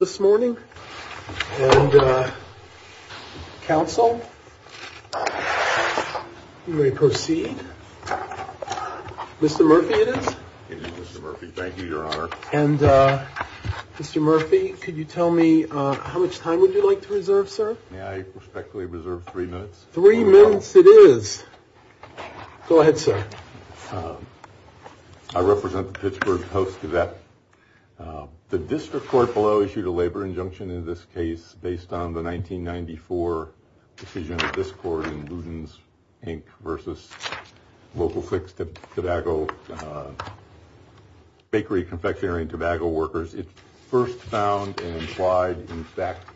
This morning, and Council, you may proceed. Mr. Murphy, it is? It is Mr. Murphy. Thank you, Your Honor. And Mr. Murphy, could you tell me how much time would you like to reserve, sir? May I respectfully reserve three minutes? Three minutes it is. Go ahead, sir. I represent the Pittsburgh Post. The district court below issued a labor injunction in this case based on the 1994 decision of this court in Luden's, Inc. versus local fixed tobacco bakery confectionery and tobacco workers. It first found and implied, in fact,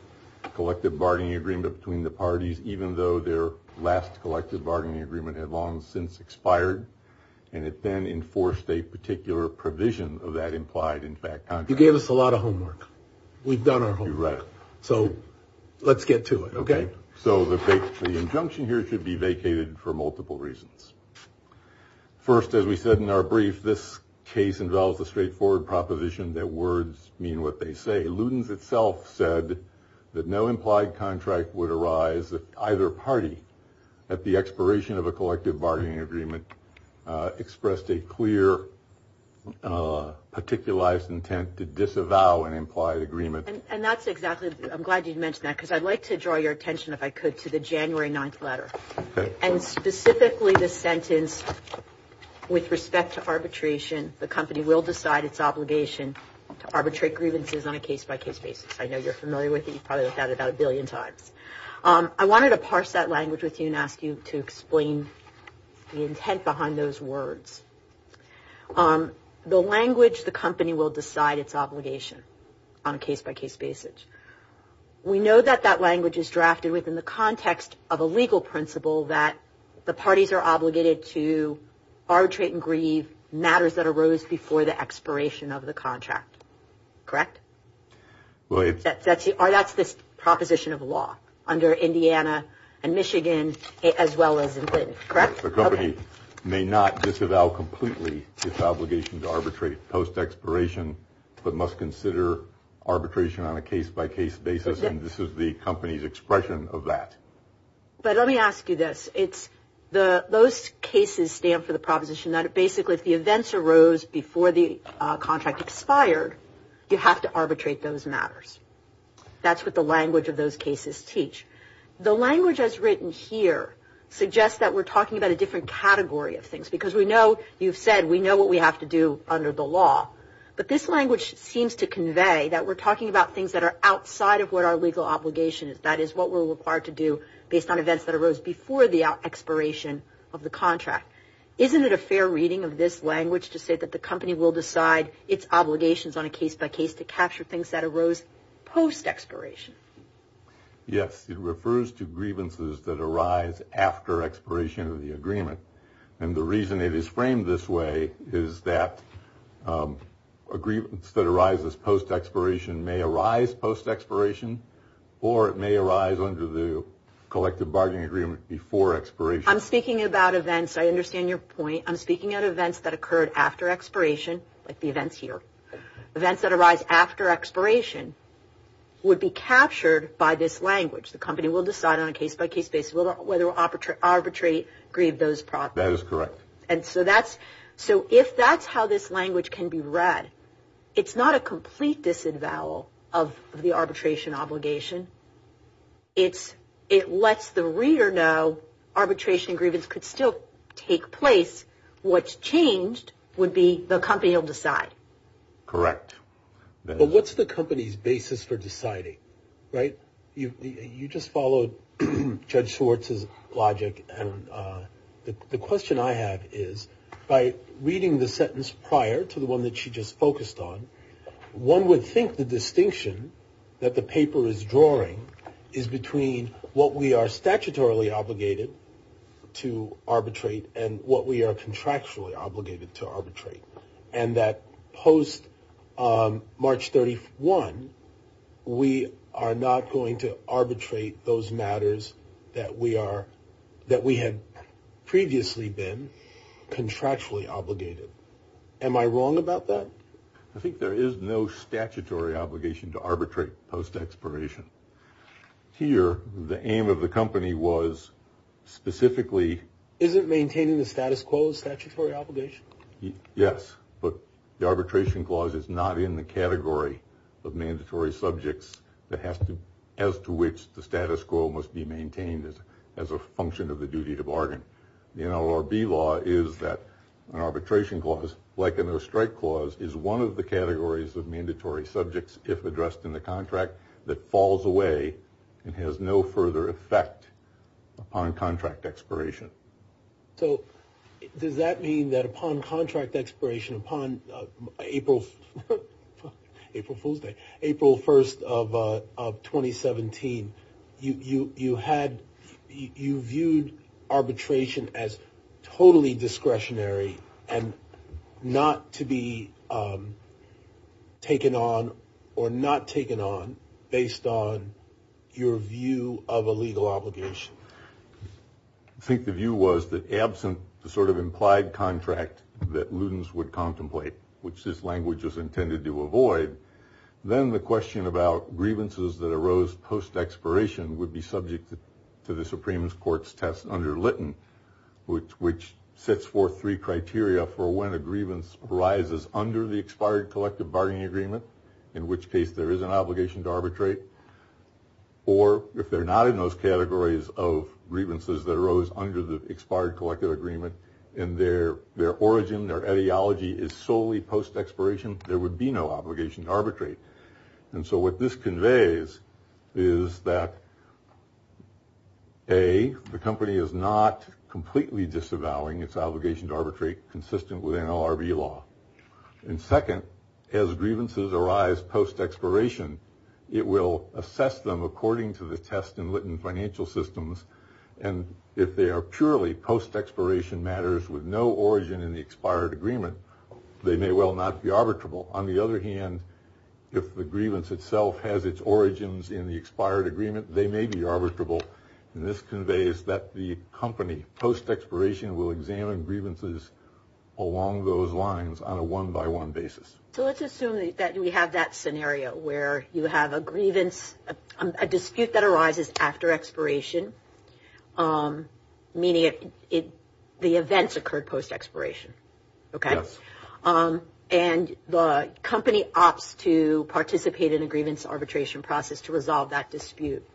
collective bargaining agreement between the parties, even though their last collective bargaining agreement had long since expired, and it then enforced a particular provision of that implied, in fact, contract. You gave us a lot of homework. We've done our homework. You're right. So let's get to it, okay? So the injunction here should be vacated for multiple reasons. First, as we said in our brief, this case involves a straightforward proposition that words mean what they say. Luden's itself said that no implied contract would arise at either party at the expiration of a collective bargaining agreement, expressed a clear particularized intent to disavow an implied agreement. And that's exactly, I'm glad you mentioned that, because I'd like to draw your attention, if I could, to the January 9th letter, and specifically the sentence, with respect to arbitration, the company will decide its obligation to arbitrate grievances on a case-by-case basis. I know you're familiar with it. You've probably looked at it about a billion times. I wanted to parse that through and ask you to explain the intent behind those words. The language, the company will decide its obligation on a case-by-case basis. We know that that language is drafted within the context of a legal principle that the parties are obligated to arbitrate and grieve matters that arose before the expiration of the contract. Correct? That's the proposition of law under Indiana and Michigan, as well as in Clinton. Correct? The company may not disavow completely its obligation to arbitrate post- expiration, but must consider arbitration on a case-by-case basis. And this is the company's expression of that. But let me ask you this. Those cases stand for the proposition that basically, if the events arose before the contract expired, you have to arbitrate those matters. That's what the language of those cases teach. The language as written here suggests that we're talking about a different category of things, because we know, you've said, we know what we have to do under the law. But this language seems to convey that we're talking about things that are outside of what our legal obligation is, that is, what we're required to do based on events that arose before the expiration of the contract. Isn't it a fair reading of this language to say that the company will decide its obligations on a case-by-case to capture things that arose post-expiration? Yes, it refers to grievances that arise after expiration of the agreement. And the reason it is framed this way is that a grievance that arises post- expiration may arise post-expiration, or it may arise under the collective bargaining agreement before expiration. I'm speaking about events. I understand your point. I'm speaking at events that occurred after expiration, like the events here. Events that arise after expiration would be captured by this language. The company will decide on a case-by-case basis whether to arbitrate, grieve those properties. That is correct. And so that's, so if that's how this language can be read, it's not a complete disavowal of the arbitration obligation. It's, it lets the reader know arbitration grievance could still take place. What's changed would be the company will decide. Correct. But what's the company's basis for deciding, right? You just followed Judge Schwartz's logic and the question I have is, by reading the sentence prior to the one that she just focused on, one would think the distinction that the paper is drawing is between what we are statutorily obligated to arbitrate and what we are contractually obligated to arbitrate. And that post March 31, we are not going to arbitrate those matters that we are, that we had previously been contractually obligated. Am I wrong about that? I think there is no statutory obligation to arbitrate post expiration. Here, the aim of the company was specifically. Isn't maintaining the status quo a statutory obligation? Yes, but the arbitration clause is not in the category of mandatory subjects that has to, as to which the status quo must be maintained as, as a function of the duty to bargain. The NLRB law is that an arbitration clause, like a no-strike clause, is one of the categories of mandatory subjects, if addressed in the contract, that falls away and has no further effect upon contract expiration. So does that mean that upon contract expiration, upon April, April Fool's Day, April 1st of 2017, you, you, you would view the arbitration as totally discretionary and not to be taken on or not taken on based on your view of a legal obligation? I think the view was that absent the sort of implied contract that Ludens would contemplate, which this language was intended to avoid, then the question about grievances that arose post expiration would be subject to the Supreme Court's test under Litton, which, which sets forth three criteria for when a grievance arises under the expired collective bargaining agreement, in which case there is an obligation to arbitrate, or if they're not in those categories of grievances that arose under the expired collective agreement, and their, their origin, their ideology is solely post expiration, there would be no obligation to arbitrate. And so what this conveys is that A, the company is not completely disavowing its obligation to arbitrate consistent with NLRB law, and second, as grievances arise post expiration, it will assess them according to the test in Litton financial systems, and if they are purely post expiration matters with no origin in the expired agreement, they may well not be arbitrable. On the other hand, if the grievance itself has its origins in the expired agreement, they may be arbitrable, and this conveys that the company, post expiration, will examine grievances along those lines on a one by one basis. So let's assume that we have that scenario where you have a grievance, a dispute that arises after expiration, meaning it, the events occurred post expiration, okay? Yes. And the company opts to participate in a grievance arbitration process to resolve that dispute.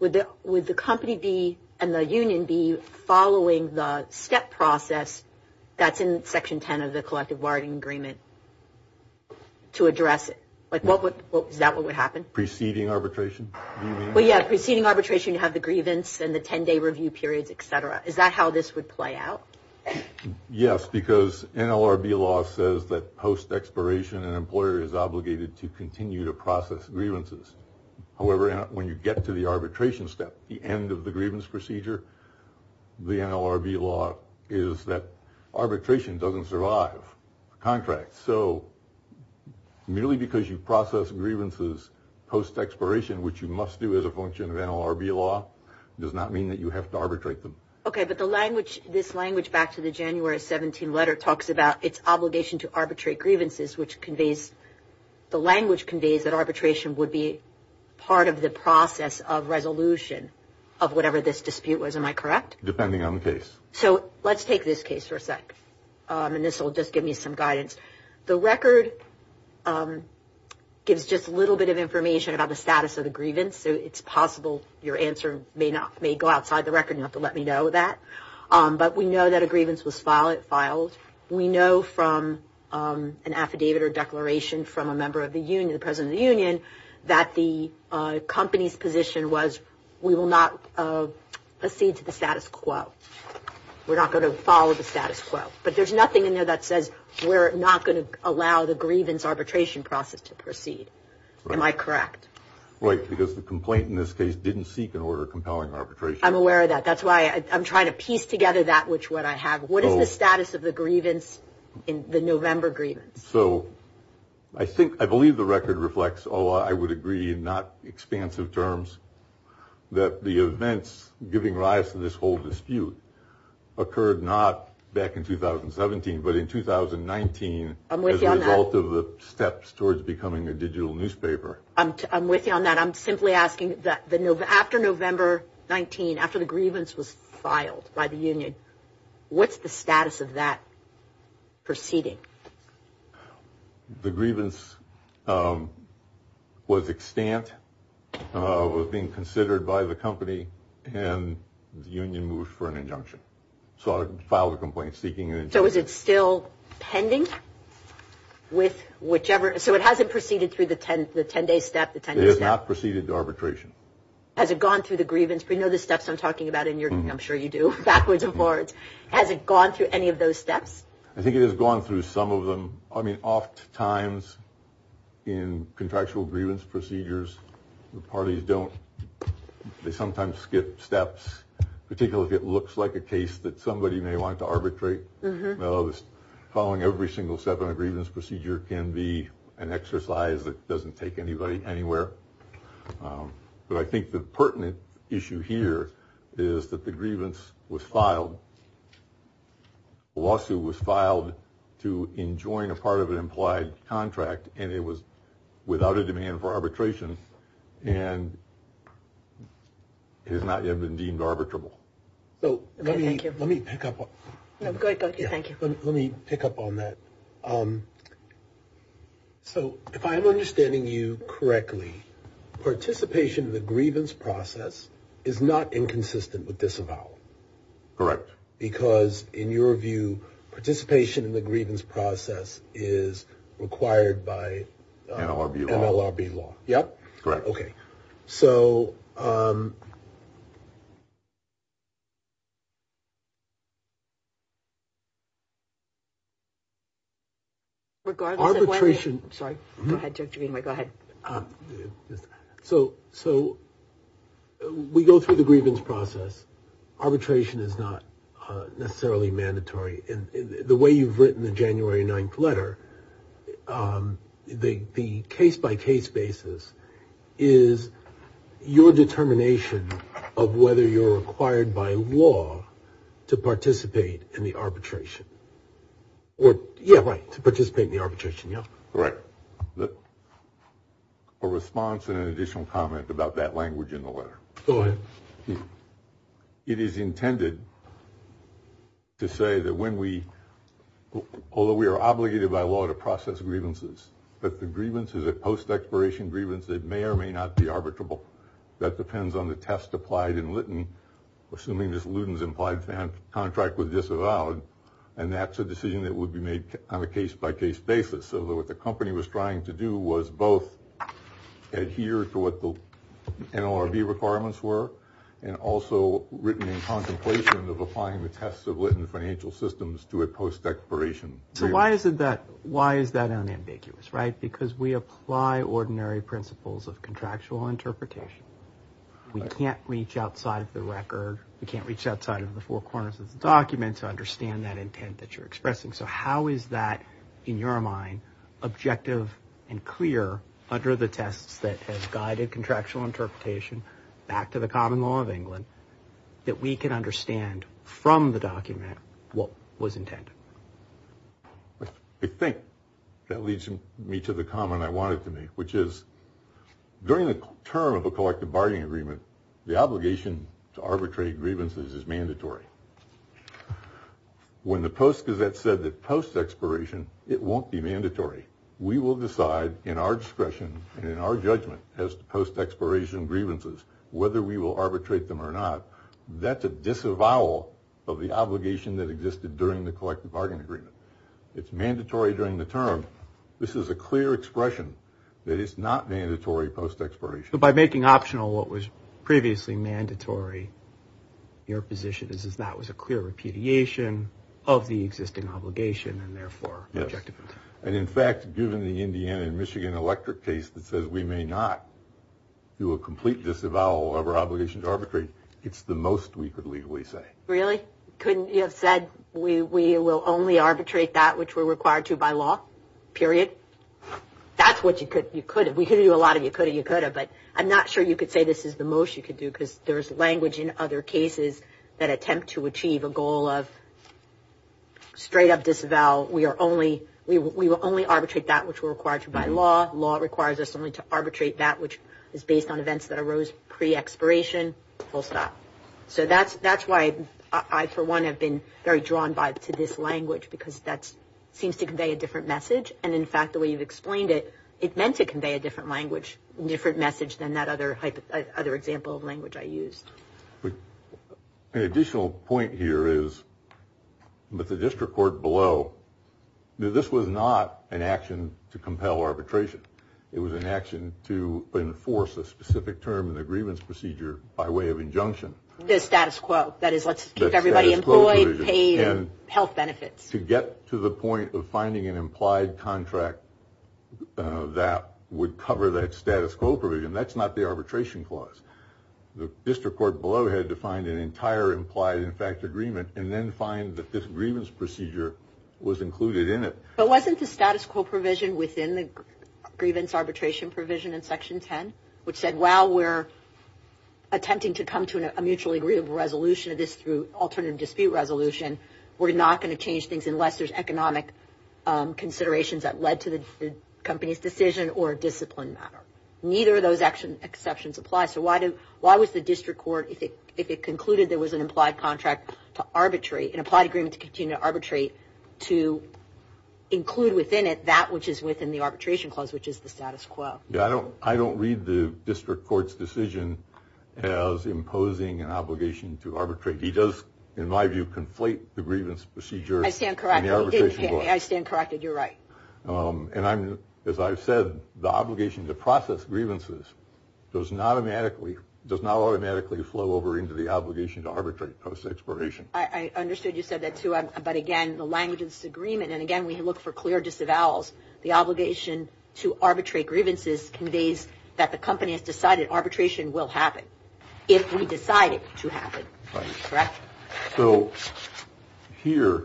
Would the, would the company be, and the union be following the step process that's in section 10 of the collective bargaining agreement to address it? Like what would, what, is that what would happen? Preceding arbitration, do you mean? Well yeah, preceding arbitration you have the grievance and the ten day review periods, etc. Is that how this would play out? Yes, because NLRB law says that post expiration an employer is obligated to continue to process grievances. However, when you get to the arbitration step, the end of the grievance procedure, the NLRB law is that arbitration doesn't survive contracts. So, merely because you process grievances post expiration, which you must do as a function of NLRB law, does not mean that you have to arbitrate them. Okay, but the language, this language back to the January 17th letter talks about its obligation to arbitrate grievances, which conveys, the language conveys that arbitration would be part of the process of resolution of whatever this dispute was. Am I correct? Depending on the case. So, let's take this case for a sec, and this will just give me some guidance. The record gives just a little bit of information about the status of a grievance, so it's possible your answer may go outside the record, you'll have to let me know that. But we know that a grievance was filed. We know from an affidavit or declaration from a member of the union, the president of the union, that the company's position was, we will not proceed to the status quo. We're not going to follow the status quo. But there's nothing in there that says we're not going to allow the grievance arbitration process to proceed. Am I correct? Right, because the complaint in this case didn't seek an order compelling arbitration. I'm aware of that. That's why I'm trying to piece together that which one I have. What is the status of the grievance, the November grievance? So, I think, I believe the record reflects, although I would agree in not expansive terms, that the events giving rise to this whole dispute occurred not back in 2017, but in 2019- I'm with you on that. As a result of the steps towards becoming a digital newspaper. I'm with you on that. I'm simply asking that after November 19, after the grievance was filed by the union, what's the status of that proceeding? The grievance was extant, was being considered by the company, and the union moved for an injunction. So, I filed a complaint seeking an injunction. So, is it still pending with whichever? So, it hasn't proceeded through the 10-day step? It has not proceeded to arbitration. Has it gone through the grievance? We know the steps I'm talking about in your, I'm sure you do, backwards and forwards. Has it gone through any of those steps? I think it has gone through some of them. I mean, oft times in contractual grievance procedures, the parties don't, they sometimes skip steps, particularly if it looks like a case that somebody may want to arbitrate. No, following every single step in a grievance procedure can be an exercise that doesn't take anybody anywhere. But I think the pertinent issue here is that the grievance was filed, the lawsuit was filed to enjoin a part of an implied contract, and it was without a demand for arbitration, and has not yet been deemed arbitrable. So, let me pick up on that. So, if I'm understanding you correctly, participation in the grievance process is not inconsistent with disavowal? Correct. Because in your view, participation in the grievance process is required by NLRB law? Yep. Correct. Okay. So, we go through the grievance process. Arbitration is not necessarily mandatory. And the way you've written the January 9th letter, the case-by-case basis is your determination of whether you're required by law to participate in the arbitration. Or, yeah, right, to participate in the arbitration, yeah. Correct. A response and an additional comment about that language in the letter. Go ahead. It is intended to say that when we, although we are obligated by law to process grievances, that the grievance is a post-expiration grievance that may or may not be arbitrable. That depends on the test applied in Litton, assuming this Luden's implied contract was disavowed, and that's a decision that would be made on a case-by-case basis. So, what the company was trying to do was both adhere to what the NLRB requirements were, and also written in contemplation of applying the tests of Litton Financial Systems to a post-expiration grievance. So, why is that unambiguous, right? Because we apply ordinary principles of contractual interpretation. We can't reach outside of the record, we can't reach outside of the four corners of the document to understand that intent that you're expressing. So, how is that, in your mind, objective and clear under the tests that have guided contractual interpretation back to the common law of England, that we can understand from the document what was intended? I think that leads me to the comment I wanted to make, which is during the term of a collective bargaining agreement, the obligation to arbitrate grievances is mandatory. When the Post-Gazette said that post-expiration, it won't be mandatory. We will decide in our discretion and in our judgment as to post-expiration grievances, whether we will arbitrate them or not. That's a disavowal of the obligation that existed during the collective bargaining agreement. It's mandatory during the term. This is a clear expression that it's not mandatory post-expiration. By making optional what was previously mandatory, your position is that that was a clear repudiation of the existing obligation, and therefore objective. And, in fact, given the Indiana and Michigan electric case that says we may not do a complete disavowal of our obligation to arbitrate, it's the most we could legally say. Really? Couldn't you have said we will only arbitrate that which we're required to by law, period? That's what you could have. We could do a lot of you coulda, you coulda. But I'm not sure you could say this is the most you could do, because there's language in other cases that attempt to achieve a goal of straight up disavowal. We will only arbitrate that which we're required to by law. Law requires us only to arbitrate that which is based on events that arose pre-expiration. Full stop. So that's why I, for one, have been very drawn by to this language, because that seems to convey a different message. And, in fact, the way you've explained it, it meant to convey a different language, different message than that other example of language I used. But an additional point here is that the district court below, this was not an action to compel arbitration. It was an action to enforce a specific term in the grievance procedure by way of injunction. The status quo. That is, let's keep everybody employed, paid, and health benefits. To get to the point of finding an implied contract that would cover that status quo provision, that's not the arbitration clause. The district court below had to find an entire implied, in fact, agreement and then find that this grievance procedure was included in it. But wasn't the status quo provision within the grievance arbitration provision in Section 10, which said, while we're attempting to come to a mutually agreeable resolution of this through alternative dispute resolution, we're not going to change things unless there's economic considerations that led to the company's decision or discipline matter. Neither of those exceptions apply. Why was the district court, if it concluded there was an implied contract to arbitrate, an implied agreement to continue to arbitrate, to include within it that which is within the arbitration clause, which is the status quo? I don't read the district court's decision as imposing an obligation to arbitrate. He does, in my view, conflate the grievance procedure. I stand corrected. I stand corrected. You're right. And as I've said, the obligation to process grievances does not automatically flow over into the obligation to arbitrate post-expiration. I understood you said that, too. But again, the language of this agreement, and again, we look for clear disavowals, the obligation to arbitrate grievances conveys that the company has decided arbitration will happen if we decide it to happen. Right. So here,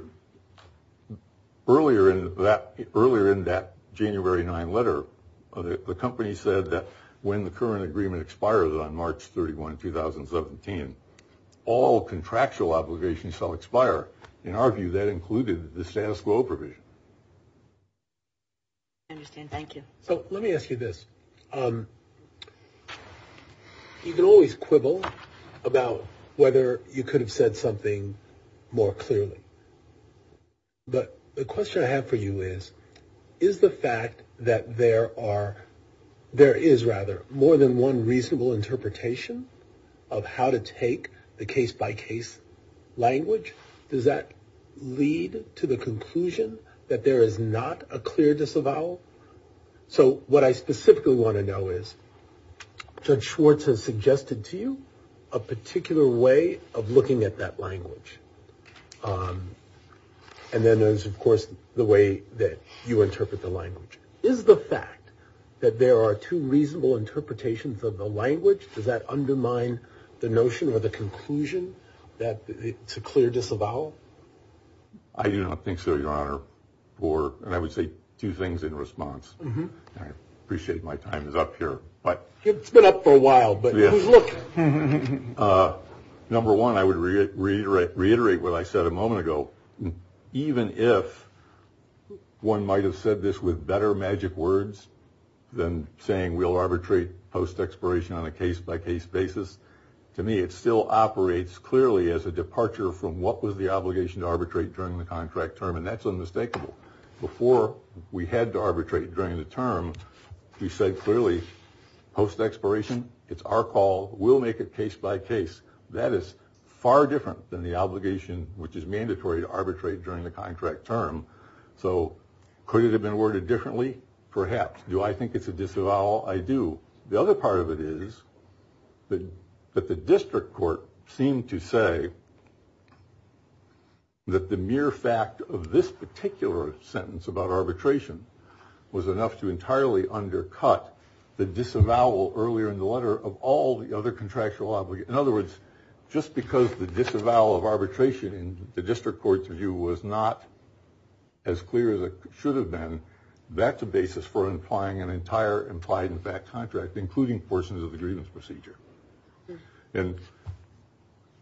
earlier in that January 9 letter, the company said that when the current agreement expires on March 31, 2017, all contractual obligations shall expire. In our view, that included the status quo provision. I understand. Thank you. So let me ask you this. You can always quibble about whether you could have said something more clearly. But the question I have for you is, is the fact that there are, there is rather, more than one reasonable interpretation of how to take the case-by-case language, does that lead to the conclusion that there is not a clear disavowal? So what I specifically want to know is, Judge Schwartz has suggested to you a particular way of looking at that language. And then there's, of course, the way that you interpret the language. Is the fact that there are two reasonable interpretations of the language, does that undermine the notion or the conclusion that it's a clear disavowal? I do not think so, Your Honor. And I would say two things in response. I appreciate my time is up here, but. It's been up for a while, but look. Number one, I would reiterate what I said a moment ago. Even if one might have said this with better magic words than saying we'll arbitrate post-expiration on a case-by-case basis, to me it still operates clearly as a departure from what was the obligation to arbitrate during the contract term. And that's unmistakable. Before we had to arbitrate during the term, we said clearly post-expiration, it's our call, we'll make it case-by-case. That is far different than the obligation which is mandatory to arbitrate during the contract term. So could it have been worded differently? Perhaps. Do I think it's a disavowal? I do. The other part of it is that the district court seemed to say that the mere fact of this particular sentence about arbitration was enough to entirely undercut the disavowal earlier in the letter of all the other contractual obligations. In other words, just because the disavowal of arbitration in the district court's view was not as clear as it should have been, that's a basis for implying an entire implied-in-fact contract, including portions of the grievance procedure. And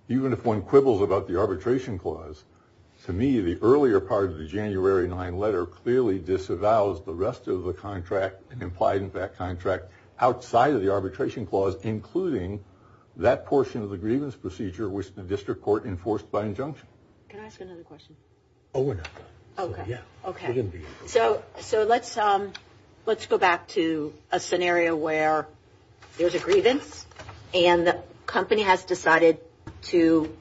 even if one quibbles about the arbitration clause, to me, the earlier part of the January 9 letter clearly disavows the rest of the contract, an implied-in-fact contract, outside of the arbitration clause, including that portion of the grievance procedure which the district court enforced by injunction. Can I ask another question? Oh, we're not done. Okay. Yeah. Okay. We didn't begin. So let's go back to a scenario where there's a grievance. And the company has decided to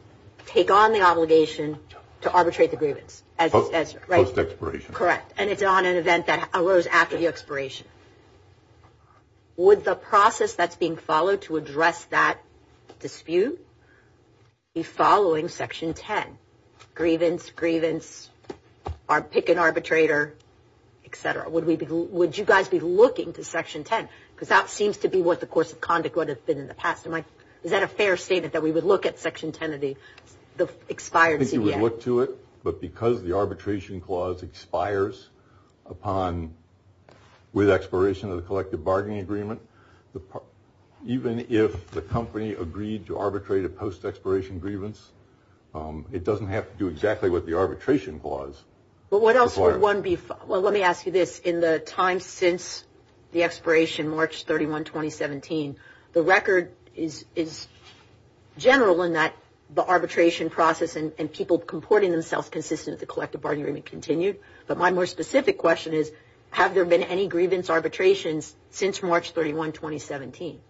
take on the obligation to arbitrate the grievance. Post-expiration. Correct. And it's on an event that arose after the expiration. Would the process that's being followed to address that dispute be following Section 10? Grievance, grievance, pick an arbitrator, et cetera. Would you guys be looking to Section 10? Because that seems to be what the course of conduct would have been in the past. Is that a fair statement that we would look at Section 10 of the expired CBI? I think you would look to it. But because the arbitration clause expires upon, with expiration of the collective bargaining agreement, even if the company agreed to arbitrate a post-expiration grievance, it doesn't have to do exactly what the arbitration clause requires. But what else would one be, well, let me ask you this. In the time since the expiration, March 31, 2017, the record is general in that the arbitration process and people comporting themselves consistent with the collective bargaining agreement continued. But my more specific question is, have there been any grievance arbitrations since March 31, 2017?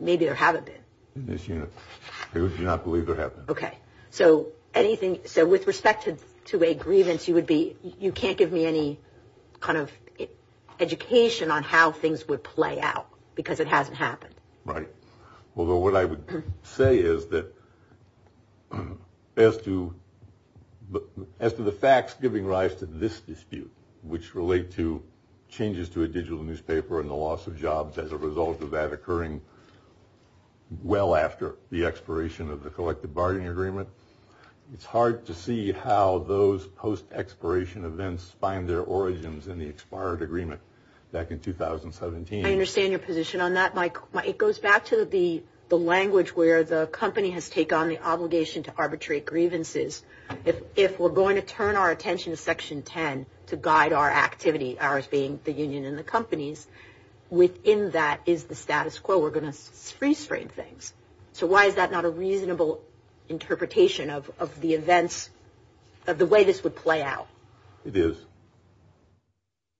Maybe there haven't been. In this unit. Because you do not believe there have been. Okay. So anything, so with respect to a grievance, you would be, you can't give me any kind of education on how things would play out. Because it hasn't happened. Right. Although what I would say is that as to the facts giving rise to this dispute, which relate to changes to a digital newspaper and the loss of jobs as a result of that occurring well after the expiration of the collective bargaining agreement, it's hard to see how those post-expiration events find their origins in the expired agreement back in 2017. I understand your position on that, Mike. It goes back to the language where the company has taken on the obligation to arbitrate grievances. If we're going to turn our attention to Section 10 to guide our activity, ours being the union and the companies, within that is the status quo. We're going to freeze frame things. So why is that not a reasonable interpretation of the events of the way this would play out? It is.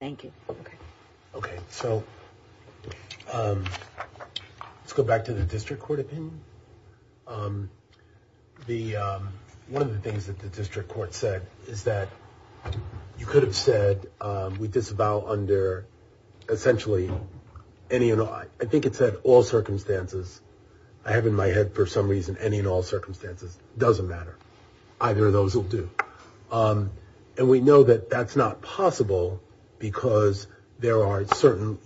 Thank you. Okay. Okay. So let's go back to the district court opinion. One of the things that the district court said is that you could have said we disavow under essentially any and all. I think it said all circumstances. I have in my head for some reason any and all circumstances. Doesn't matter. Either of those will do. And we know that that's not possible because there are certain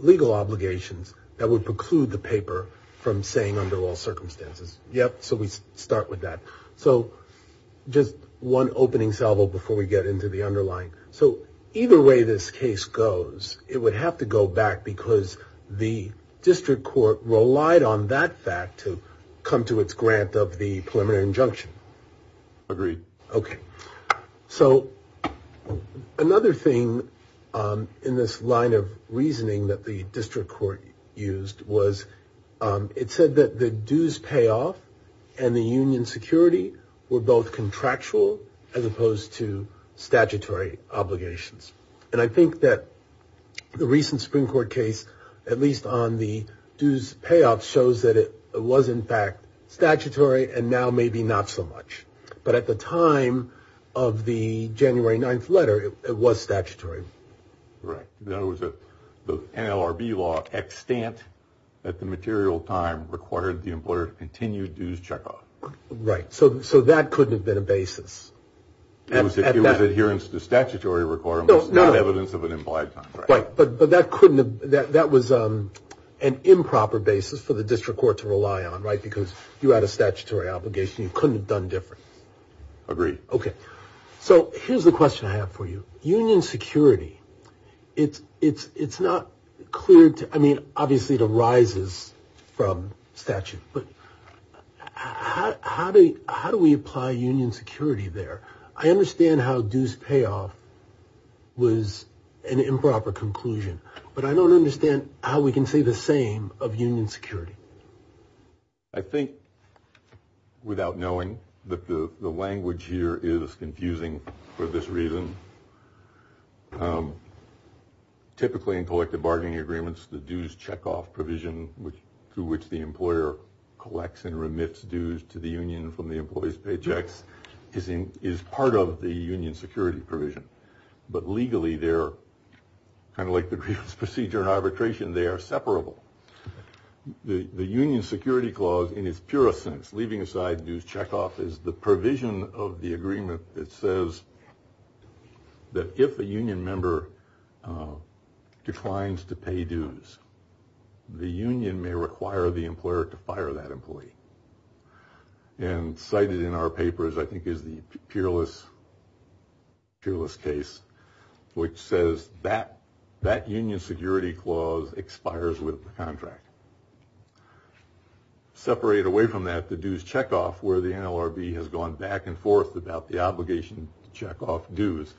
legal obligations that would preclude the paper from saying under all circumstances. Yep. So we start with that. So just one opening salvo before we get into the underlying. So either way this case goes, it would have to go back because the district court relied on that fact to come to its grant of the preliminary injunction. Agreed. Okay. So another thing in this line of reasoning that the district court used was it said that dues payoff and the union security were both contractual as opposed to statutory obligations. And I think that the recent Supreme Court case, at least on the dues payoff shows that it was in fact statutory and now maybe not so much. But at the time of the January 9th letter, it was statutory. Right. The NLRB law extant at the material time required the employer to continue dues checkoff. Right. So that couldn't have been a basis. It was adherence to statutory requirements, not evidence of an implied time. Right. But that was an improper basis for the district court to rely on, right? Because you had a statutory obligation. You couldn't have done different. Agreed. Okay. So here's the question I have for you. Union security, it's not clear to, I mean, obviously it arises from statute, but how do we apply union security there? I understand how dues payoff was an improper conclusion, but I don't understand how we can say the same of union security. I think without knowing that the language here is confusing for this reason. Typically in collective bargaining agreements, the dues checkoff provision, which through which the employer collects and remits dues to the union from the employees paychecks is in, is part of the union security provision. But legally they're kind of like the grievance procedure and arbitration. They are separable. The union security clause in its purest sense, leaving aside dues checkoff is the provision of the agreement that says that if a union member declines to pay dues, the union may require the employer to fire that employee. And cited in our papers, I think is the peerless case, which says that that union security clause expires with the contract. Separate away from that, the dues checkoff where the NLRB has gone back and forth about the obligation to check off dues,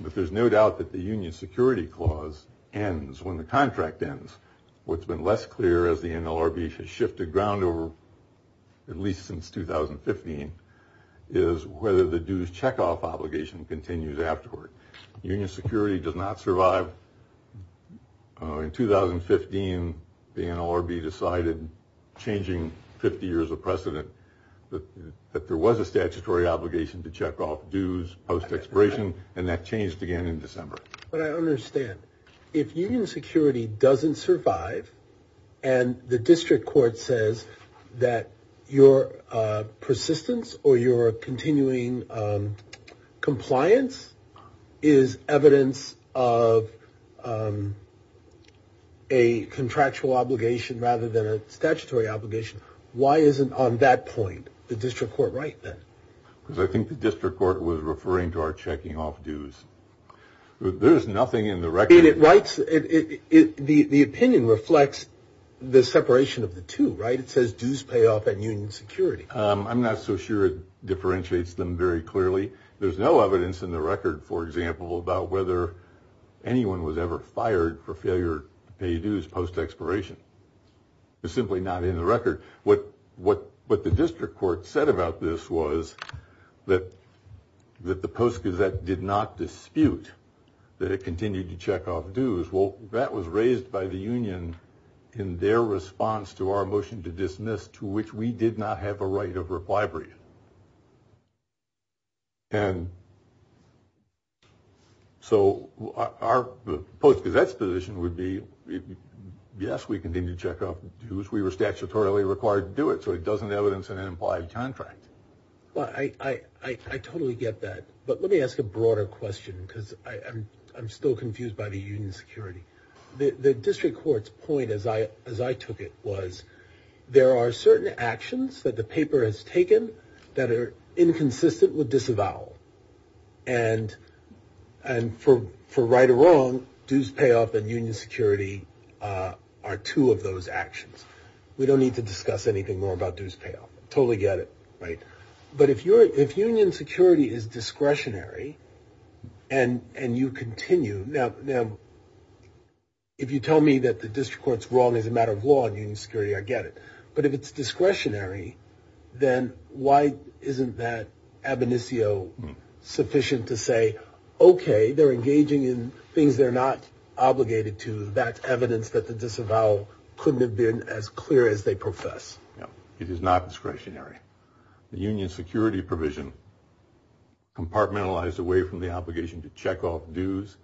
but there's no doubt that the union security clause ends when the contract ends. What's been less clear as the NLRB has shifted ground over at least since 2015 is whether the dues checkoff obligation continues afterward. Union security does not survive. In 2015, the NLRB decided, changing 50 years of precedent, that there was a statutory obligation to check off dues post expiration. And that changed again in December. But I understand if union security doesn't survive and the district court says that your persistence or your continuing compliance is evidence of a contractual obligation rather than a statutory obligation, why isn't on that point the district court right then? Because I think the district court was referring to our checking off dues. There's nothing in the record. And it writes, the opinion reflects the separation of the two, right? Dues payoff and union security. I'm not so sure it differentiates them very clearly. There's no evidence in the record, for example, about whether anyone was ever fired for failure to pay dues post expiration. It's simply not in the record. What the district court said about this was that the Post Gazette did not dispute that it continued to check off dues. That was raised by the union in their response to our motion to dismiss, to which we did not have a right of reply brief. And so our Post Gazette's position would be, yes, we continue to check off dues. We were statutorily required to do it. So it doesn't evidence an implied contract. Well, I totally get that. But let me ask a broader question, because I'm still confused by the union security. The district court's point, as I took it, was there are certain actions that the paper has taken that are inconsistent with disavowal. And for right or wrong, dues payoff and union security are two of those actions. We don't need to discuss anything more about dues payoff. Totally get it, right? But if union security is discretionary and you continue, now, if you tell me that the district court's wrong as a matter of law and union security, I get it. But if it's discretionary, then why isn't that ab initio sufficient to say, OK, they're engaging in things they're not obligated to. That's evidence that the disavowal couldn't have been as clear as they profess. It is not discretionary. The union security provision, compartmentalized away from the obligation to check off dues,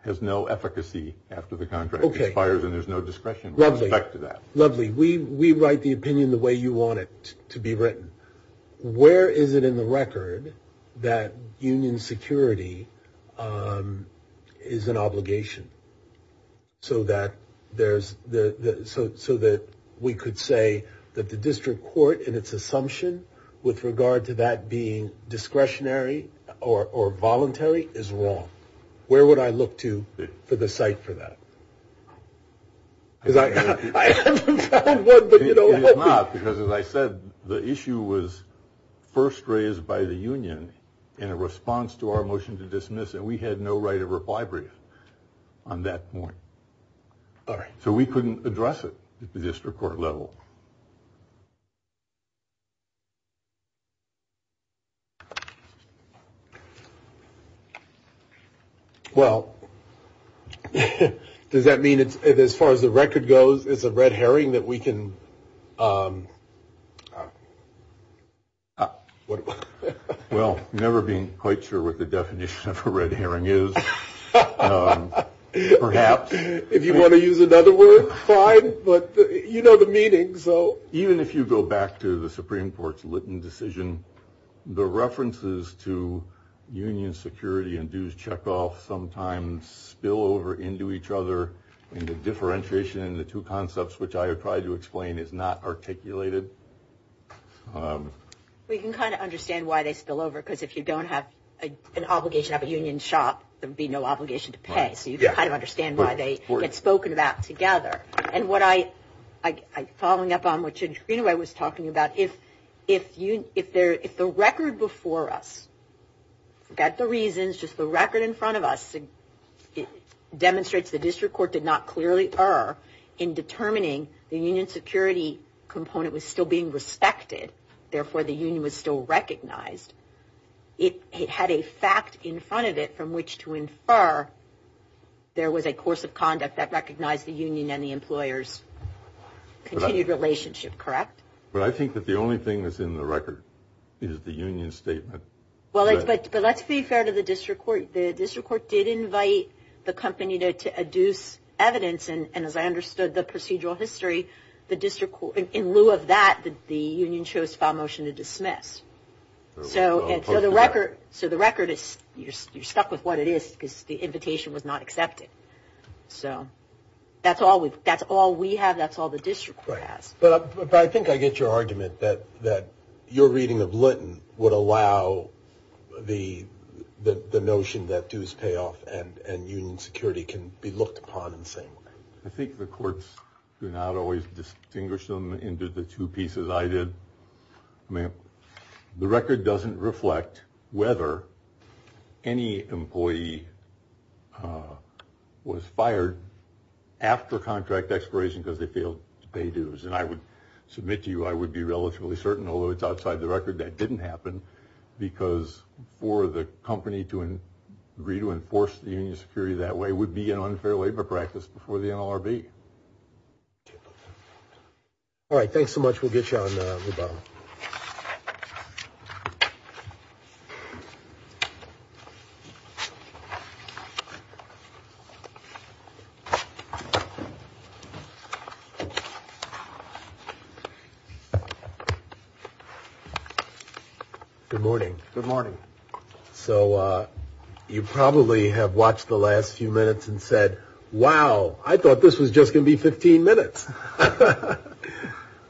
has no efficacy after the contract expires and there's no discretion with respect to that. Lovely. We write the opinion the way you want it to be written. Where is it in the record that union security is an obligation so that we could say that its assumption with regard to that being discretionary or voluntary is wrong? Where would I look to for the site for that? Because I haven't found one. It is not, because as I said, the issue was first raised by the union in a response to our motion to dismiss. And we had no right of reply brief on that point. So we couldn't address it at the district court level. Well, does that mean it's as far as the record goes, it's a red herring that we can. Well, never been quite sure what the definition of a red herring is, perhaps. If you want to use another word, fine. But you know the meaning. So even if you go back to the Supreme Court's Litton decision, the references to union security and dues checkoff sometimes spill over into each other and the differentiation in the two concepts, which I tried to explain, is not articulated. We can kind of understand why they spill over, because if you don't have an obligation of a union shop, there would be no obligation to pay. So you can kind of understand why they get spoken about together. And what I, following up on what Chandrina was talking about, if the record before us, forget the reasons, just the record in front of us, demonstrates the district court did not clearly err in determining the union security component was still being respected. Therefore, the union was still recognized. It had a fact in front of it from which to infer there was a course of conduct that recognized the union and the employer's continued relationship, correct? But I think that the only thing that's in the record is the union statement. Well, but let's be fair to the district court. The district court did invite the company to adduce evidence. And as I understood the procedural history, the district court, in lieu of that, the union chose file motion to dismiss. So the record is, you're stuck with what it is, because the invitation was not accepted. So that's all we have. That's all the district court has. But I think I get your argument that your reading of Lytton would allow the notion that dues payoff and union security can be looked upon in the same way. I think the courts do not always distinguish them into the two pieces I did. I mean, the record doesn't reflect whether any employee was fired after contract expiration because they failed to pay dues. And I would submit to you, I would be relatively certain, although it's outside the record, that didn't happen because for the company to agree to enforce the union security that way would be an unfair labor practice before the NLRB. All right, thanks so much. We'll get you on the bottom. Good morning. Good morning. So you probably have watched the last few minutes and said, wow, I thought this was just going to be 15 minutes.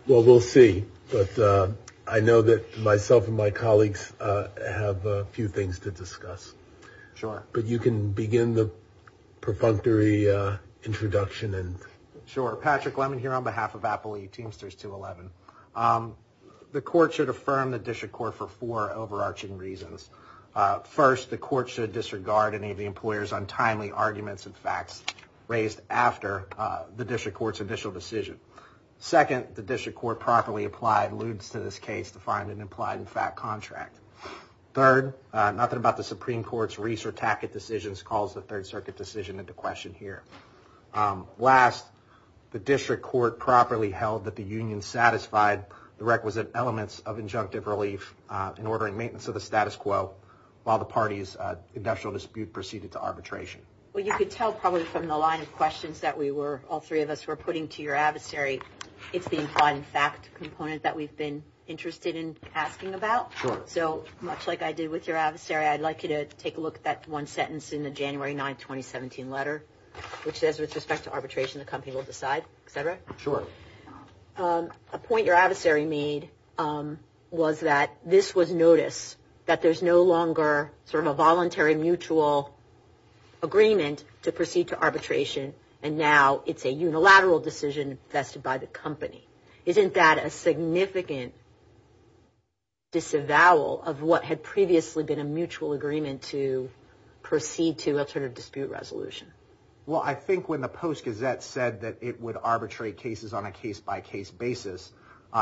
Well, we'll see. But I know that myself and my colleagues have a few things to discuss. Sure. But you can begin the perfunctory introduction. And sure, Patrick Lemmon here on behalf of Apple E Teamsters 211, the court should affirm the district court for four overarching reasons. First, the court should disregard any of the employers' untimely arguments and facts raised after the district court's initial decision. Second, the district court properly applied lewds to this case to find an implied in fact contract. Third, nothing about the Supreme Court's Reese or Tackett decisions calls the Third Circuit decision into question here. Last, the district court properly held that the union satisfied the requisite elements of injunctive relief in ordering maintenance of the status quo while the party's industrial dispute proceeded to arbitration. Well, you could tell probably from the line of questions that we were, all three of us were putting to your adversary, it's the implied in fact component that we've been interested in asking about. Sure. So much like I did with your adversary, I'd like you to take a look at that one sentence in the January 9, 2017 letter, which says with respect to arbitration, the company will decide, et cetera. Sure. A point your adversary made was that this was notice that there's no longer sort of a agreement to proceed to arbitration and now it's a unilateral decision vested by the company. Isn't that a significant disavowal of what had previously been a mutual agreement to proceed to alternative dispute resolution? Well, I think when the Post Gazette said that it would arbitrate cases on a case by case basis,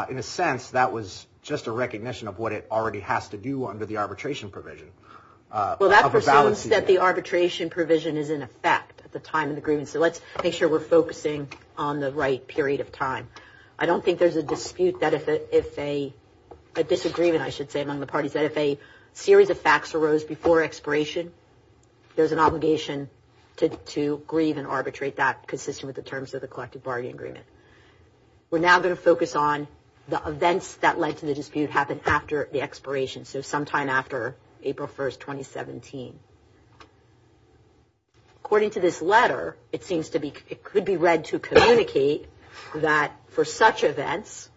in a sense, that was just a recognition of what it already has to do under the arbitration provision. Well, that presumes that the arbitration provision is in effect at the time of the agreement, so let's make sure we're focusing on the right period of time. I don't think there's a dispute that if a disagreement, I should say, among the parties that if a series of facts arose before expiration, there's an obligation to grieve and arbitrate that consistent with the terms of the collective bargaining agreement. We're now going to focus on the events that led to the dispute happened after the first 2017. According to this letter, it seems to be, it could be read to communicate that for such events,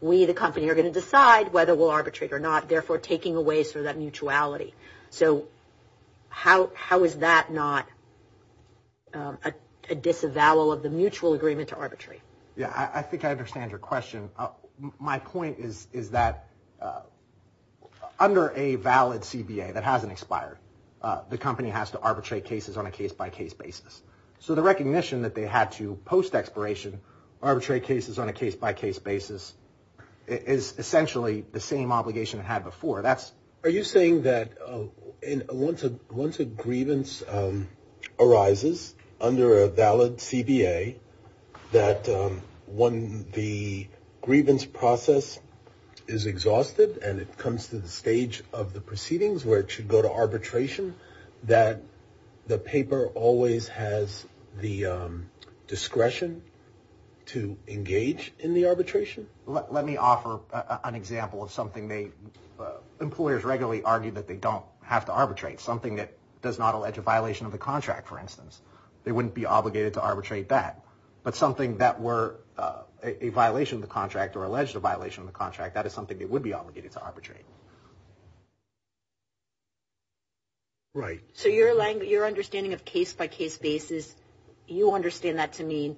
we, the company, are going to decide whether we'll arbitrate or not, therefore taking away sort of that mutuality. So how is that not a disavowal of the mutual agreement to arbitrate? Yeah, I think I understand your question. My point is that under a valid CBA that hasn't expired, the company has to arbitrate cases on a case-by-case basis. So the recognition that they had to post-expiration arbitrate cases on a case-by-case basis is essentially the same obligation it had before. Are you saying that once a grievance arises under a valid CBA, that when the grievance process is exhausted and it comes to the stage of the proceedings where it should go to arbitration, that the paper always has the discretion to engage in the arbitration? Let me offer an example of something they, employers regularly argue that they don't have to arbitrate. Something that does not allege a violation of the contract, for instance. They wouldn't be obligated to arbitrate that. But something that were a violation of the contract or alleged a violation of the contract, that is something they would be obligated to arbitrate. Right. So your understanding of case-by-case basis, you understand that to mean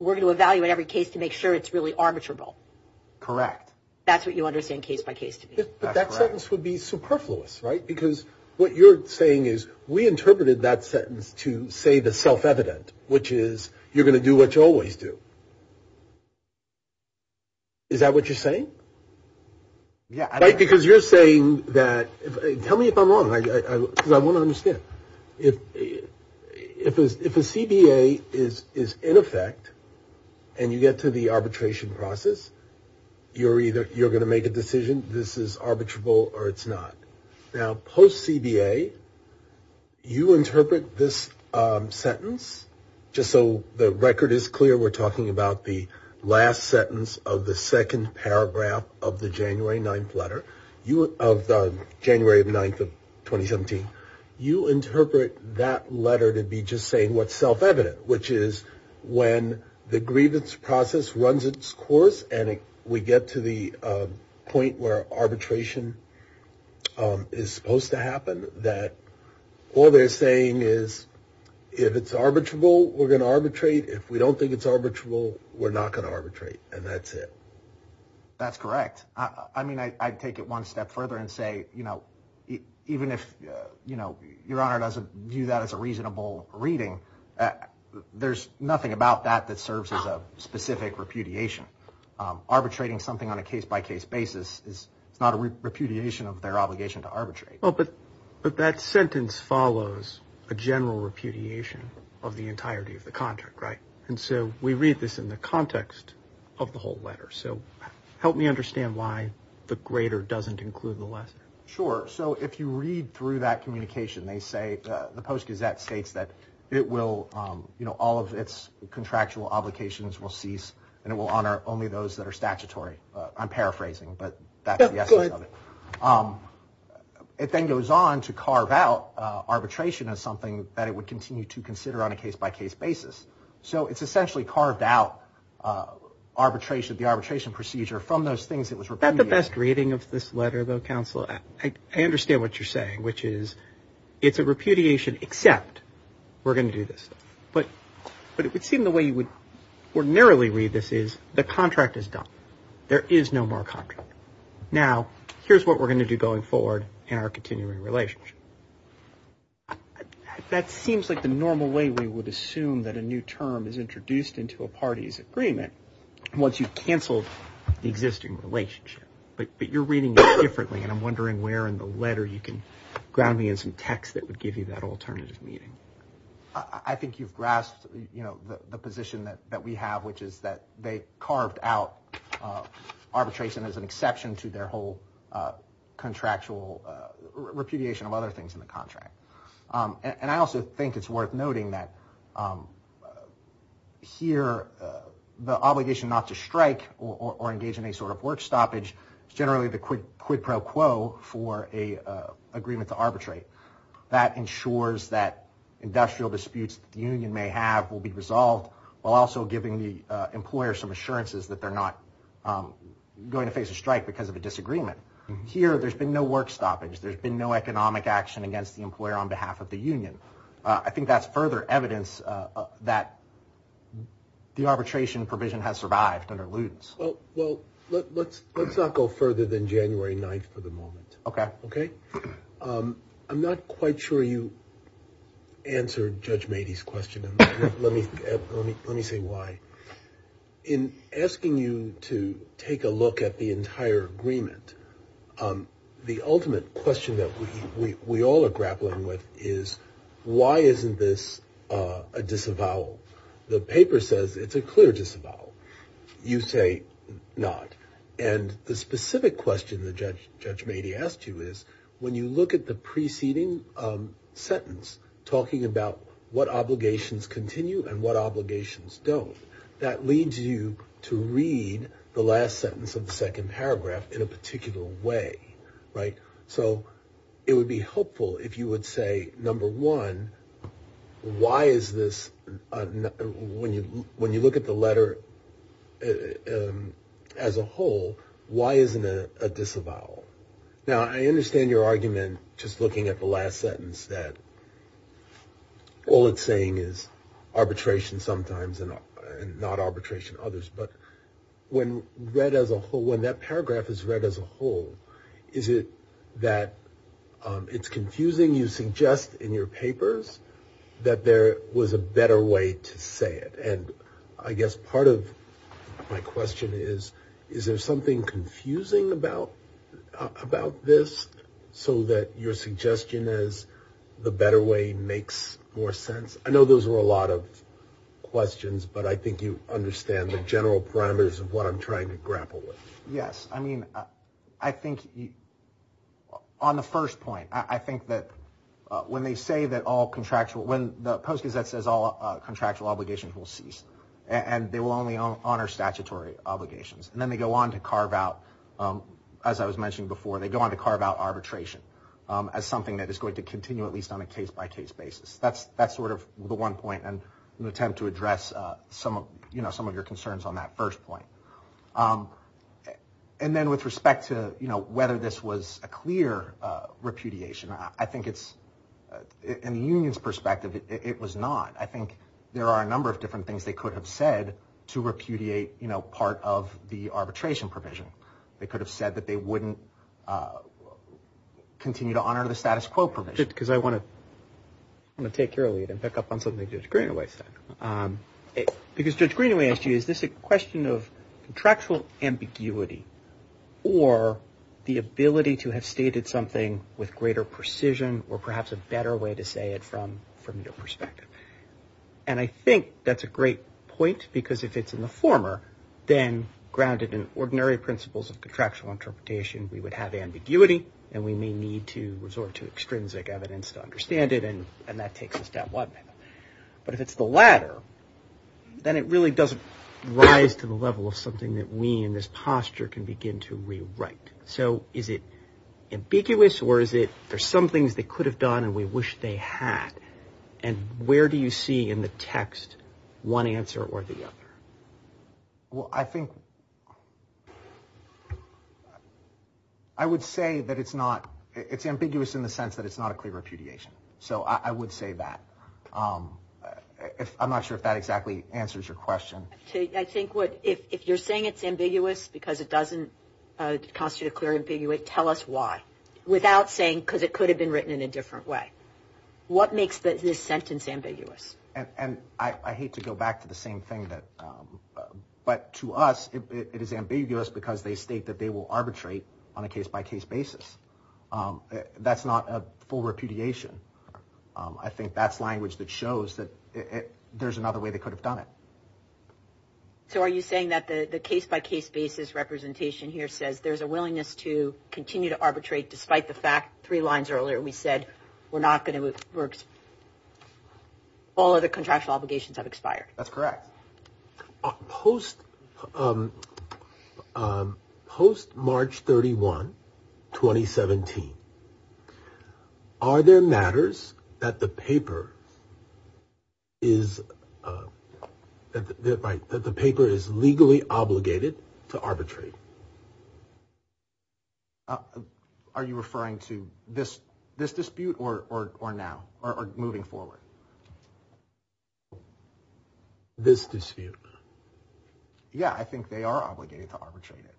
we're going to make sure it's really arbitrable. Correct. That's what you understand case-by-case to mean. But that sentence would be superfluous, right? Because what you're saying is we interpreted that sentence to say the self-evident, which is you're going to do what you always do. Is that what you're saying? Yeah. Because you're saying that, tell me if I'm wrong, because I want to understand. If a CBA is in effect and you get to the arbitration process, you're either, you're going to make a decision, this is arbitrable or it's not. Now, post-CBA, you interpret this sentence, just so the record is clear, we're talking about the last sentence of the second paragraph of the January 9th letter, of the January 9th of 2017. You interpret that letter to be just saying what's self-evident, which is when the grievance process runs its course and we get to the point where arbitration is supposed to happen, that all they're saying is if it's arbitrable, we're going to arbitrate. If we don't think it's arbitrable, we're not going to arbitrate. And that's it. That's correct. I'd take it one step further and say, even if Your Honor doesn't view that as a reasonable reading, there's nothing about that that serves as a specific repudiation. Arbitrating something on a case-by-case basis is not a repudiation of their obligation to arbitrate. But that sentence follows a general repudiation of the entirety of the contract, right? And so we read this in the context of the whole letter. So help me understand why the greater doesn't include the lesser. Sure. So if you read through that communication, they say, the Post-Gazette states that it will, you know, all of its contractual obligations will cease and it will honor only those that are statutory. I'm paraphrasing, but that's the essence of it. It then goes on to carve out arbitration as something that it would continue to consider on a case-by-case basis. So it's essentially carved out arbitration, the arbitration procedure from those things that was repudiated. Is that the best reading of this letter, though, Counselor? I understand what you're saying, which is it's a repudiation, except we're going to do this. But it would seem the way you would ordinarily read this is the contract is done. There is no more contract. Now, here's what we're going to do going forward in our continuing relationship. I, that seems like the normal way we would assume that a new term is introduced into a party's agreement once you cancel the existing relationship. But you're reading it differently. And I'm wondering where in the letter you can ground me in some text that would give you that alternative meaning. I think you've grasped, you know, the position that we have, which is that they carved out arbitration as an exception to their whole contractual repudiation of other things in the contract. And I also think it's worth noting that here the obligation not to strike or engage in a sort of work stoppage is generally the quid pro quo for a agreement to arbitrate. That ensures that industrial disputes the union may have will be resolved, while also giving the employer some assurances that they're not going to face a strike because of a disagreement. Here, there's been no work stoppage. There's been no economic action against the employer on behalf of the union. I think that's further evidence that the arbitration provision has survived under Lutz. Well, well, let's, let's not go further than January 9th for the moment. Okay. Okay. I'm not quite sure you answered Judge Mady's question. Let me, let me say why. In asking you to take a look at the entire agreement, the ultimate question that we all are grappling with is, why isn't this a disavowal? The paper says it's a clear disavowal. You say not. And the specific question that Judge Mady asked you is, when you look at the preceding sentence, talking about what obligations continue and what obligations don't, that leads you to read the last sentence of the second paragraph in a particular way, right? So it would be helpful if you would say, number one, why is this, when you, when you look at the letter as a whole, why isn't it a disavowal? Now, I understand your argument, just looking at the last sentence, that all it's saying is arbitration sometimes and not arbitration others. But when read as a whole, when that paragraph is read as a whole, is it that it's confusing? You suggest in your papers that there was a better way to say it. And I guess part of my question is, is there something confusing about, about this so that your suggestion is the better way makes more sense? I know those were a lot of questions, but I think you understand the general parameters of what I'm trying to grapple with. Yes. I mean, I think on the first point, I think that when they say that all contractual, when the Post Gazette says all contractual obligations will cease and they will only honor statutory obligations, and then they go on to carve out, as I was mentioning before, they go on to carve out arbitration as something that is going to continue at least on a case by case basis. That's, that's sort of the one point and an attempt to address some of, you know, some of your concerns on that first point. And then with respect to, you know, whether this was a clear repudiation, I think it's, in the union's perspective, it was not. I think there are a number of different things they could have said to repudiate, you know, part of the arbitration provision. They could have said that they wouldn't continue to honor the status quo provision. Because I want to, I want to take your lead and pick up on something Judge Greenaway said. Because Judge Greenaway asked you, is this a question of contractual ambiguity or the way to say it from, from your perspective? And I think that's a great point because if it's in the former, then grounded in ordinary principles of contractual interpretation, we would have ambiguity and we may need to resort to extrinsic evidence to understand it. And, and that takes us down one. But if it's the latter, then it really doesn't rise to the level of something that we in this posture can begin to rewrite. So is it ambiguous or is it, there's some things they could have done and we wish they had, and where do you see in the text one answer or the other? Well, I think, I would say that it's not, it's ambiguous in the sense that it's not a clear repudiation. So I would say that. I'm not sure if that exactly answers your question. I think what, if you're saying it's ambiguous because it doesn't constitute a clear ambiguity, tell us why. Without saying, because it could have been written in a different way. What makes this sentence ambiguous? And I hate to go back to the same thing that, but to us, it is ambiguous because they state that they will arbitrate on a case by case basis. That's not a full repudiation. I think that's language that shows that there's another way they could have done it. So are you saying that the case by case basis representation here says there's a willingness to continue to arbitrate despite the fact, three lines earlier, we said we're not going to, all other contractual obligations have expired. That's correct. Post March 31, 2017. Are there matters that the paper is, that the paper is legally obligated to arbitrate? Are you referring to this dispute or now or moving forward? This dispute. Yeah, I think they are obligated to arbitrate it.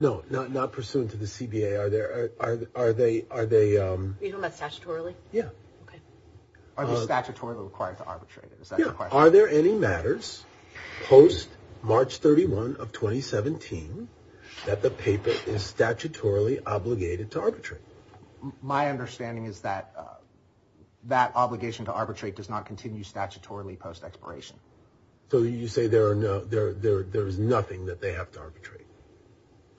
No, not, not pursuant to the CBA. Are there, are, are they, are they, um, are they statutorily required to arbitrate it? Is that the question? Are there any matters post March 31 of 2017 that the paper is statutorily obligated to arbitrate? My understanding is that, uh, that obligation to arbitrate does not continue statutorily post expiration. So you say there are no, there, there, there is nothing that they have to arbitrate.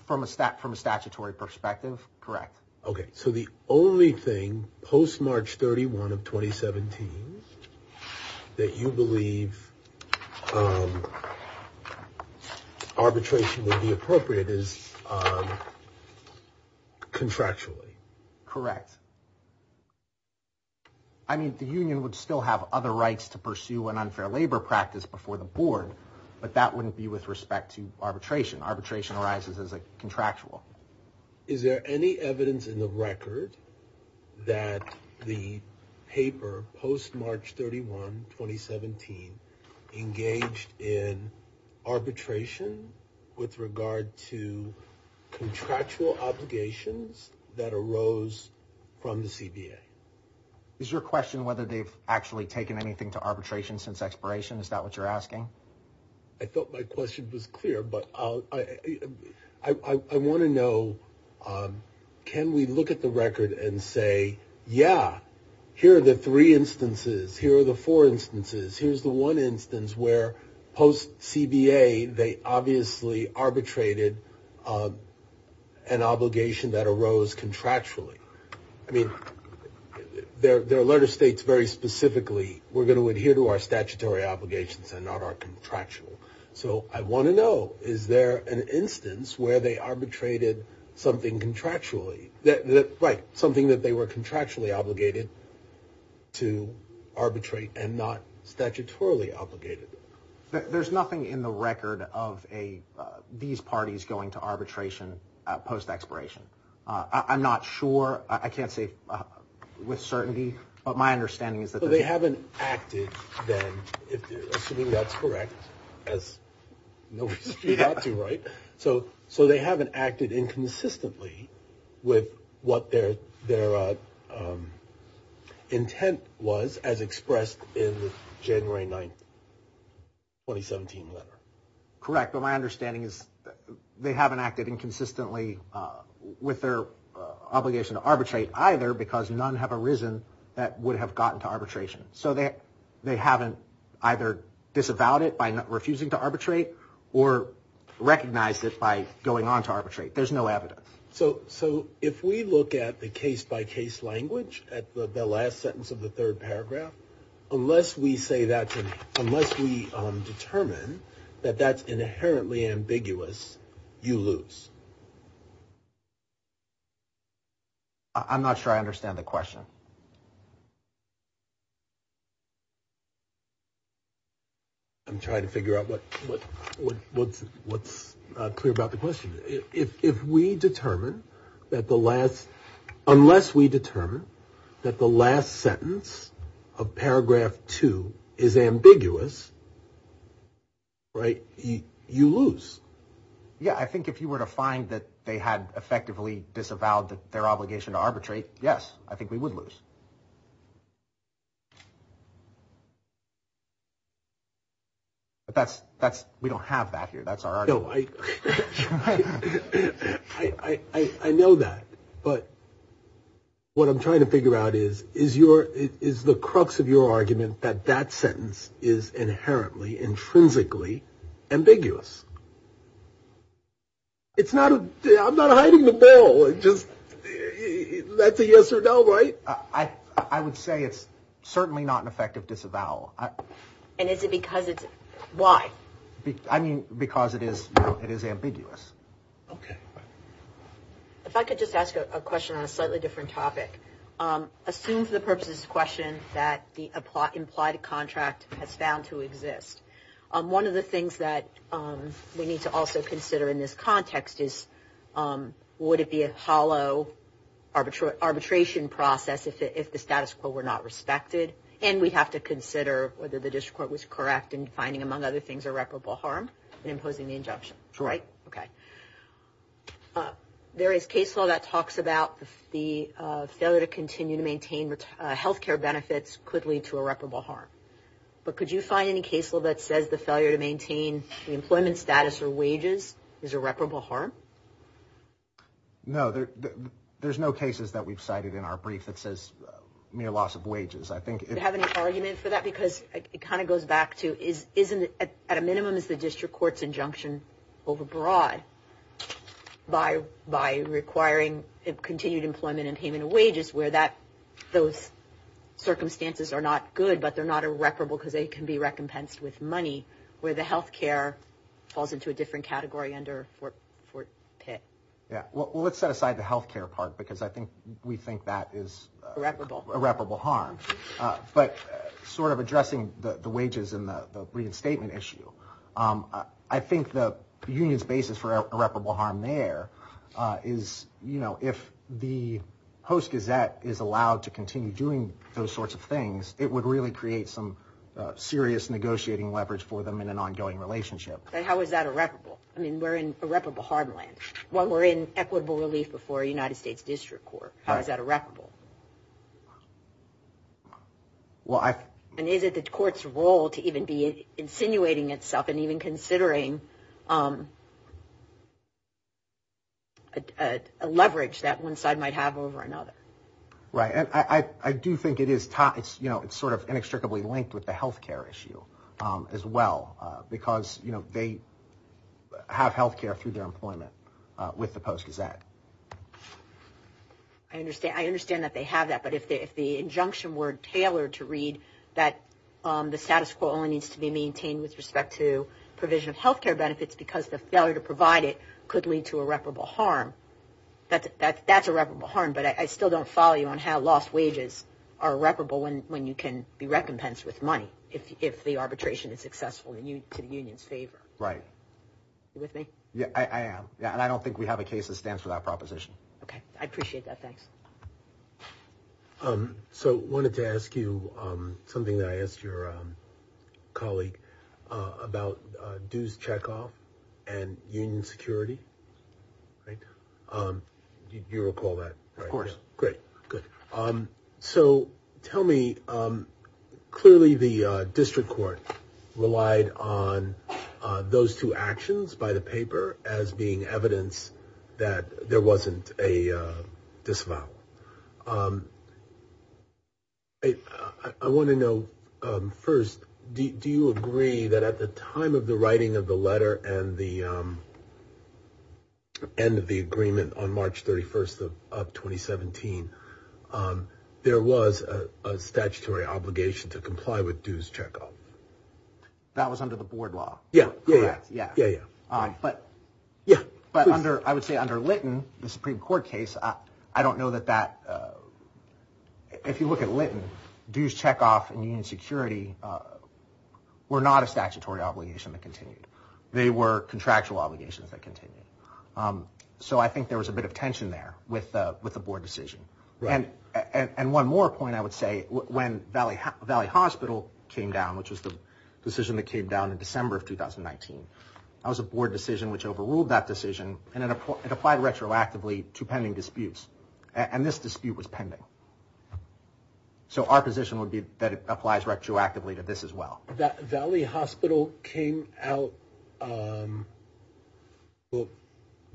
From a stat, from a statutory perspective. Correct. Okay. So the only thing post March 31 of 2017 that you believe, um, arbitration would be appropriate is, um, contractually. Correct. I mean, the union would still have other rights to pursue an unfair labor practice before the board, but that wouldn't be with respect to arbitration. Arbitration arises as a contractual. Is there any evidence in the record that the paper post March 31, 2017 engaged in arbitration with regard to contractual obligations that arose from the CBA? Is your question whether they've actually taken anything to arbitration since expiration? Is that what you're asking? I thought my question was clear, but I'll, I, I, I want to know, um, can we look at the record and say, yeah, here are the three instances. Here are the four instances. Here's the one instance where post CBA, they obviously arbitrated, um, an obligation that arose contractually. I mean, their, their letter states very specifically, we're going to adhere to our statutory obligations and not our contractual. So I want to know, is there an instance where they arbitrated something contractually that right. Something that they were contractually obligated to arbitrate and not statutorily obligated. There's nothing in the record of a, uh, these parties going to arbitration, uh, post expiration. Uh, I'm not sure. I can't say with certainty, but my understanding is that they haven't acted then assuming that's correct as nobody's got to write. So, so they haven't acted inconsistently with what their, their, uh, um, intent was as expressed in January 9th, 2017 letter. Correct. But my understanding is they haven't acted inconsistently, uh, with their obligation to arbitrate either because none have arisen that would have gotten to arbitration. So they, they haven't either disavowed it by refusing to arbitrate or recognize it by going on to arbitrate. There's no evidence. So, so if we look at the case by case language at the last sentence of the third paragraph, unless we say that, unless we determine that that's inherently ambiguous, you lose. I'm not sure. I understand the question. I'm trying to figure out what, what, what, what's, what's clear about the question. If, if we determine that the last, unless we determine that the last sentence of paragraph two is ambiguous, right. You lose. Yeah. I think if you were to find that they had effectively disavowed their obligation to arbitrate, yes, I think we would lose. But that's, that's, we don't have that here. That's our, I, I, I know that, but what I'm trying to figure out is, is your, is the crux of your argument that that sentence is inherently intrinsically ambiguous. It's not, I'm not hiding the ball. It just, that's a yes or no. Right. I would say it's certainly not an effective disavowal. And is it because it's, why? I mean, because it is, it is ambiguous. Okay. If I could just ask a question on a slightly different topic. Assume for the purposes of this question that the implied contract has found to exist. One of the things that we need to also consider in this context is, would it be a hollow arbitration process if the status quo were not respected? And we have to consider whether the district court was correct in finding, among other things, irreparable harm in imposing the injunction. Correct. Okay. There is case law that talks about the failure to continue to maintain health care benefits could lead to irreparable harm. But could you find any case law that says the failure to maintain the employment status or wages is irreparable harm? No, there, there's no cases that we've cited in our brief that says mere loss of wages. I think if- Do you have any argument for that? Because it kind of goes back to, is, isn't it, at a minimum, is the district court's injunction overbroad by, by requiring continued employment and payment of wages where that, those circumstances are not good, but they're not irreparable because they can be recompensed with money, where the health care falls into a different category under Fort, Fort, Fort Pitt. Yeah, well, let's set aside the health care part because I think we think that is- Irreparable. Irreparable harm. But sort of addressing the wages and the reinstatement issue, I think the union's basis for irreparable harm there is, you know, if the host gazette is allowed to continue doing those sorts of things, it would really create some serious negotiating leverage for them in an ongoing relationship. But how is that irreparable? I mean, we're in irreparable harm land. While we're in equitable relief before a United States district court, how is that irreparable? Well, I- And is it the court's role to even be insinuating itself and even considering a leverage that one side might have over another? Right. And I do think it is, you know, it's sort of inextricably linked with the health care issue as well because, you know, they have health care through their employment with the post-gazette. I understand that they have that, but if the injunction were tailored to read that the status quo only needs to be maintained with respect to provision of health care benefits because the failure to provide it could lead to irreparable harm, that's irreparable harm. But I still don't follow you on how lost wages are irreparable when you can be recompensed with money if the arbitration is successful to the union's favor. Right. You with me? Yeah, I am. And I don't think we have a case that stands for that proposition. OK. I appreciate that. Thanks. So I wanted to ask you something that I asked your colleague about dues checkoff and union security. Right. Do you recall that? Of course. Great. Good. So tell me, clearly, the district court relied on those two actions by the paper as being evidence that there wasn't a disavowal. I want to know first, do you agree that at the time of the writing of the letter and at the end of the agreement on March 31st of 2017, there was a statutory obligation to comply with dues checkoff? That was under the board law. Yeah, yeah, yeah. But I would say under Litton, the Supreme Court case, I don't know that that, if you look at Litton, dues checkoff and union security were not a statutory obligation that continued. They were contractual obligations that continued. So I think there was a bit of tension there with the board decision. And one more point I would say, when Valley Hospital came down, which was the decision that came down in December of 2019, that was a board decision which overruled that decision and it applied retroactively to pending disputes. And this dispute was pending. So our position would be that it applies retroactively to this as well. Valley Hospital came out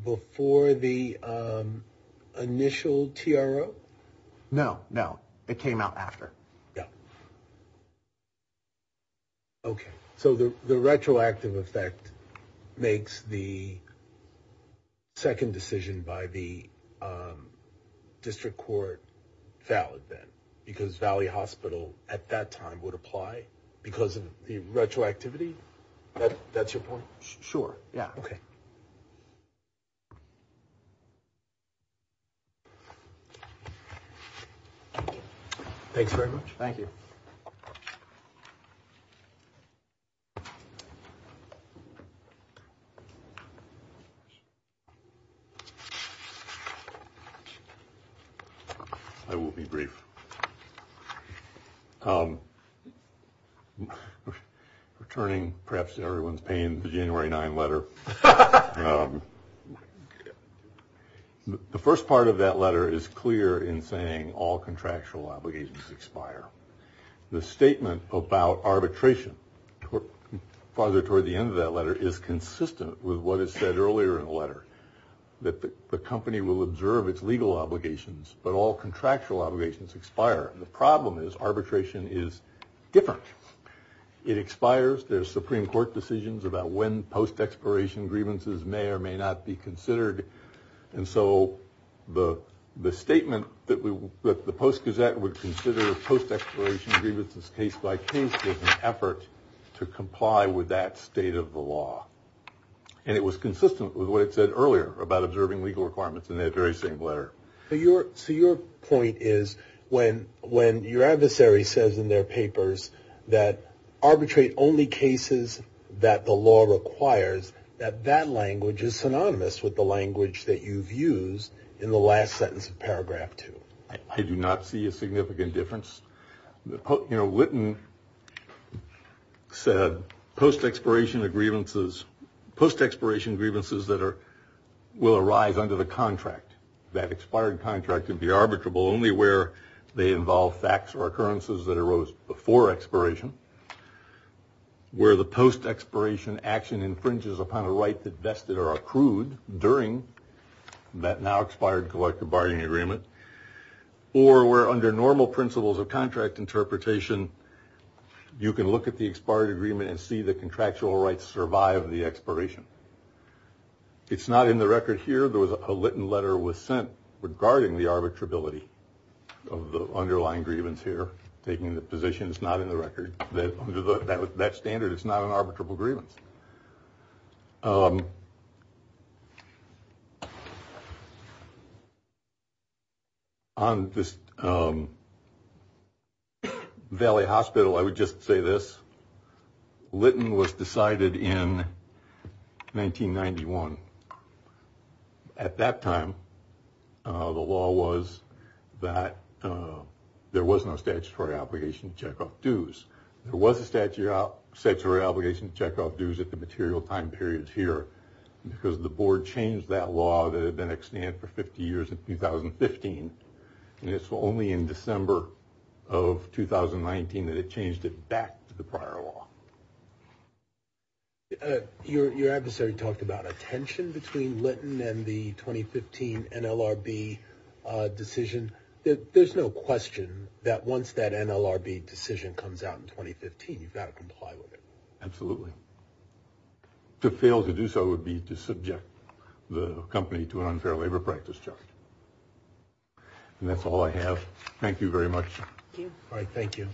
before the initial TRO? No, no. It came out after. Yeah. OK, so the retroactive effect makes the second decision by the district court valid then because Valley Hospital at that time would apply because of the retroactivity? That's your point? Sure, yeah. OK. Thanks very much. Thank you. I will be brief. OK. Returning perhaps to everyone's pain, the January 9 letter. The first part of that letter is clear in saying all contractual obligations expire. The statement about arbitration farther toward the end of that letter is consistent with what is said earlier in the letter, that the company will observe its legal obligations, but all The problem is arbitration is different. It expires. There's Supreme Court decisions about when post-expiration grievances may or may not be considered. And so the statement that the Post-Gazette would consider post-expiration grievances case-by-case is an effort to comply with that state of the law. And it was consistent with what it said earlier about observing legal requirements in that very same letter. So your point is when your adversary says in their papers that arbitrate only cases that the law requires, that that language is synonymous with the language that you've used in the last sentence of paragraph two. I do not see a significant difference. You know, Whitten said post-expiration grievances that will arise under the contract, that expired contract can be arbitrable only where they involve facts or occurrences that arose before expiration, where the post-expiration action infringes upon a right that vested or accrued during that now expired collective bargaining agreement, or where under normal principles of contract interpretation, you can look at the expired agreement and see the contractual rights survive the expiration. It's not in the record here. There was a Litton letter was sent regarding the arbitrability of the underlying grievance here, taking the position it's not in the record, that under that standard, it's not an arbitrable grievance. On this Valley Hospital, I would just say this. Litton was decided in 1991. At that time, the law was that there was no statutory obligation to check off dues. There was a statutory obligation to check off dues at the material time period here, because the board changed that law that had been extended for 50 years in 2015, and it's only in December of 2019 that it changed it back to the prior law. Your adversary talked about a tension between Litton and the 2015 NLRB decision. There's no question that once that NLRB decision comes out in 2015, you've got to comply with it. Absolutely. To fail to do so would be to subject the company to an unfair labor practice charge. And that's all I have. Thank you very much. All right. Thank you.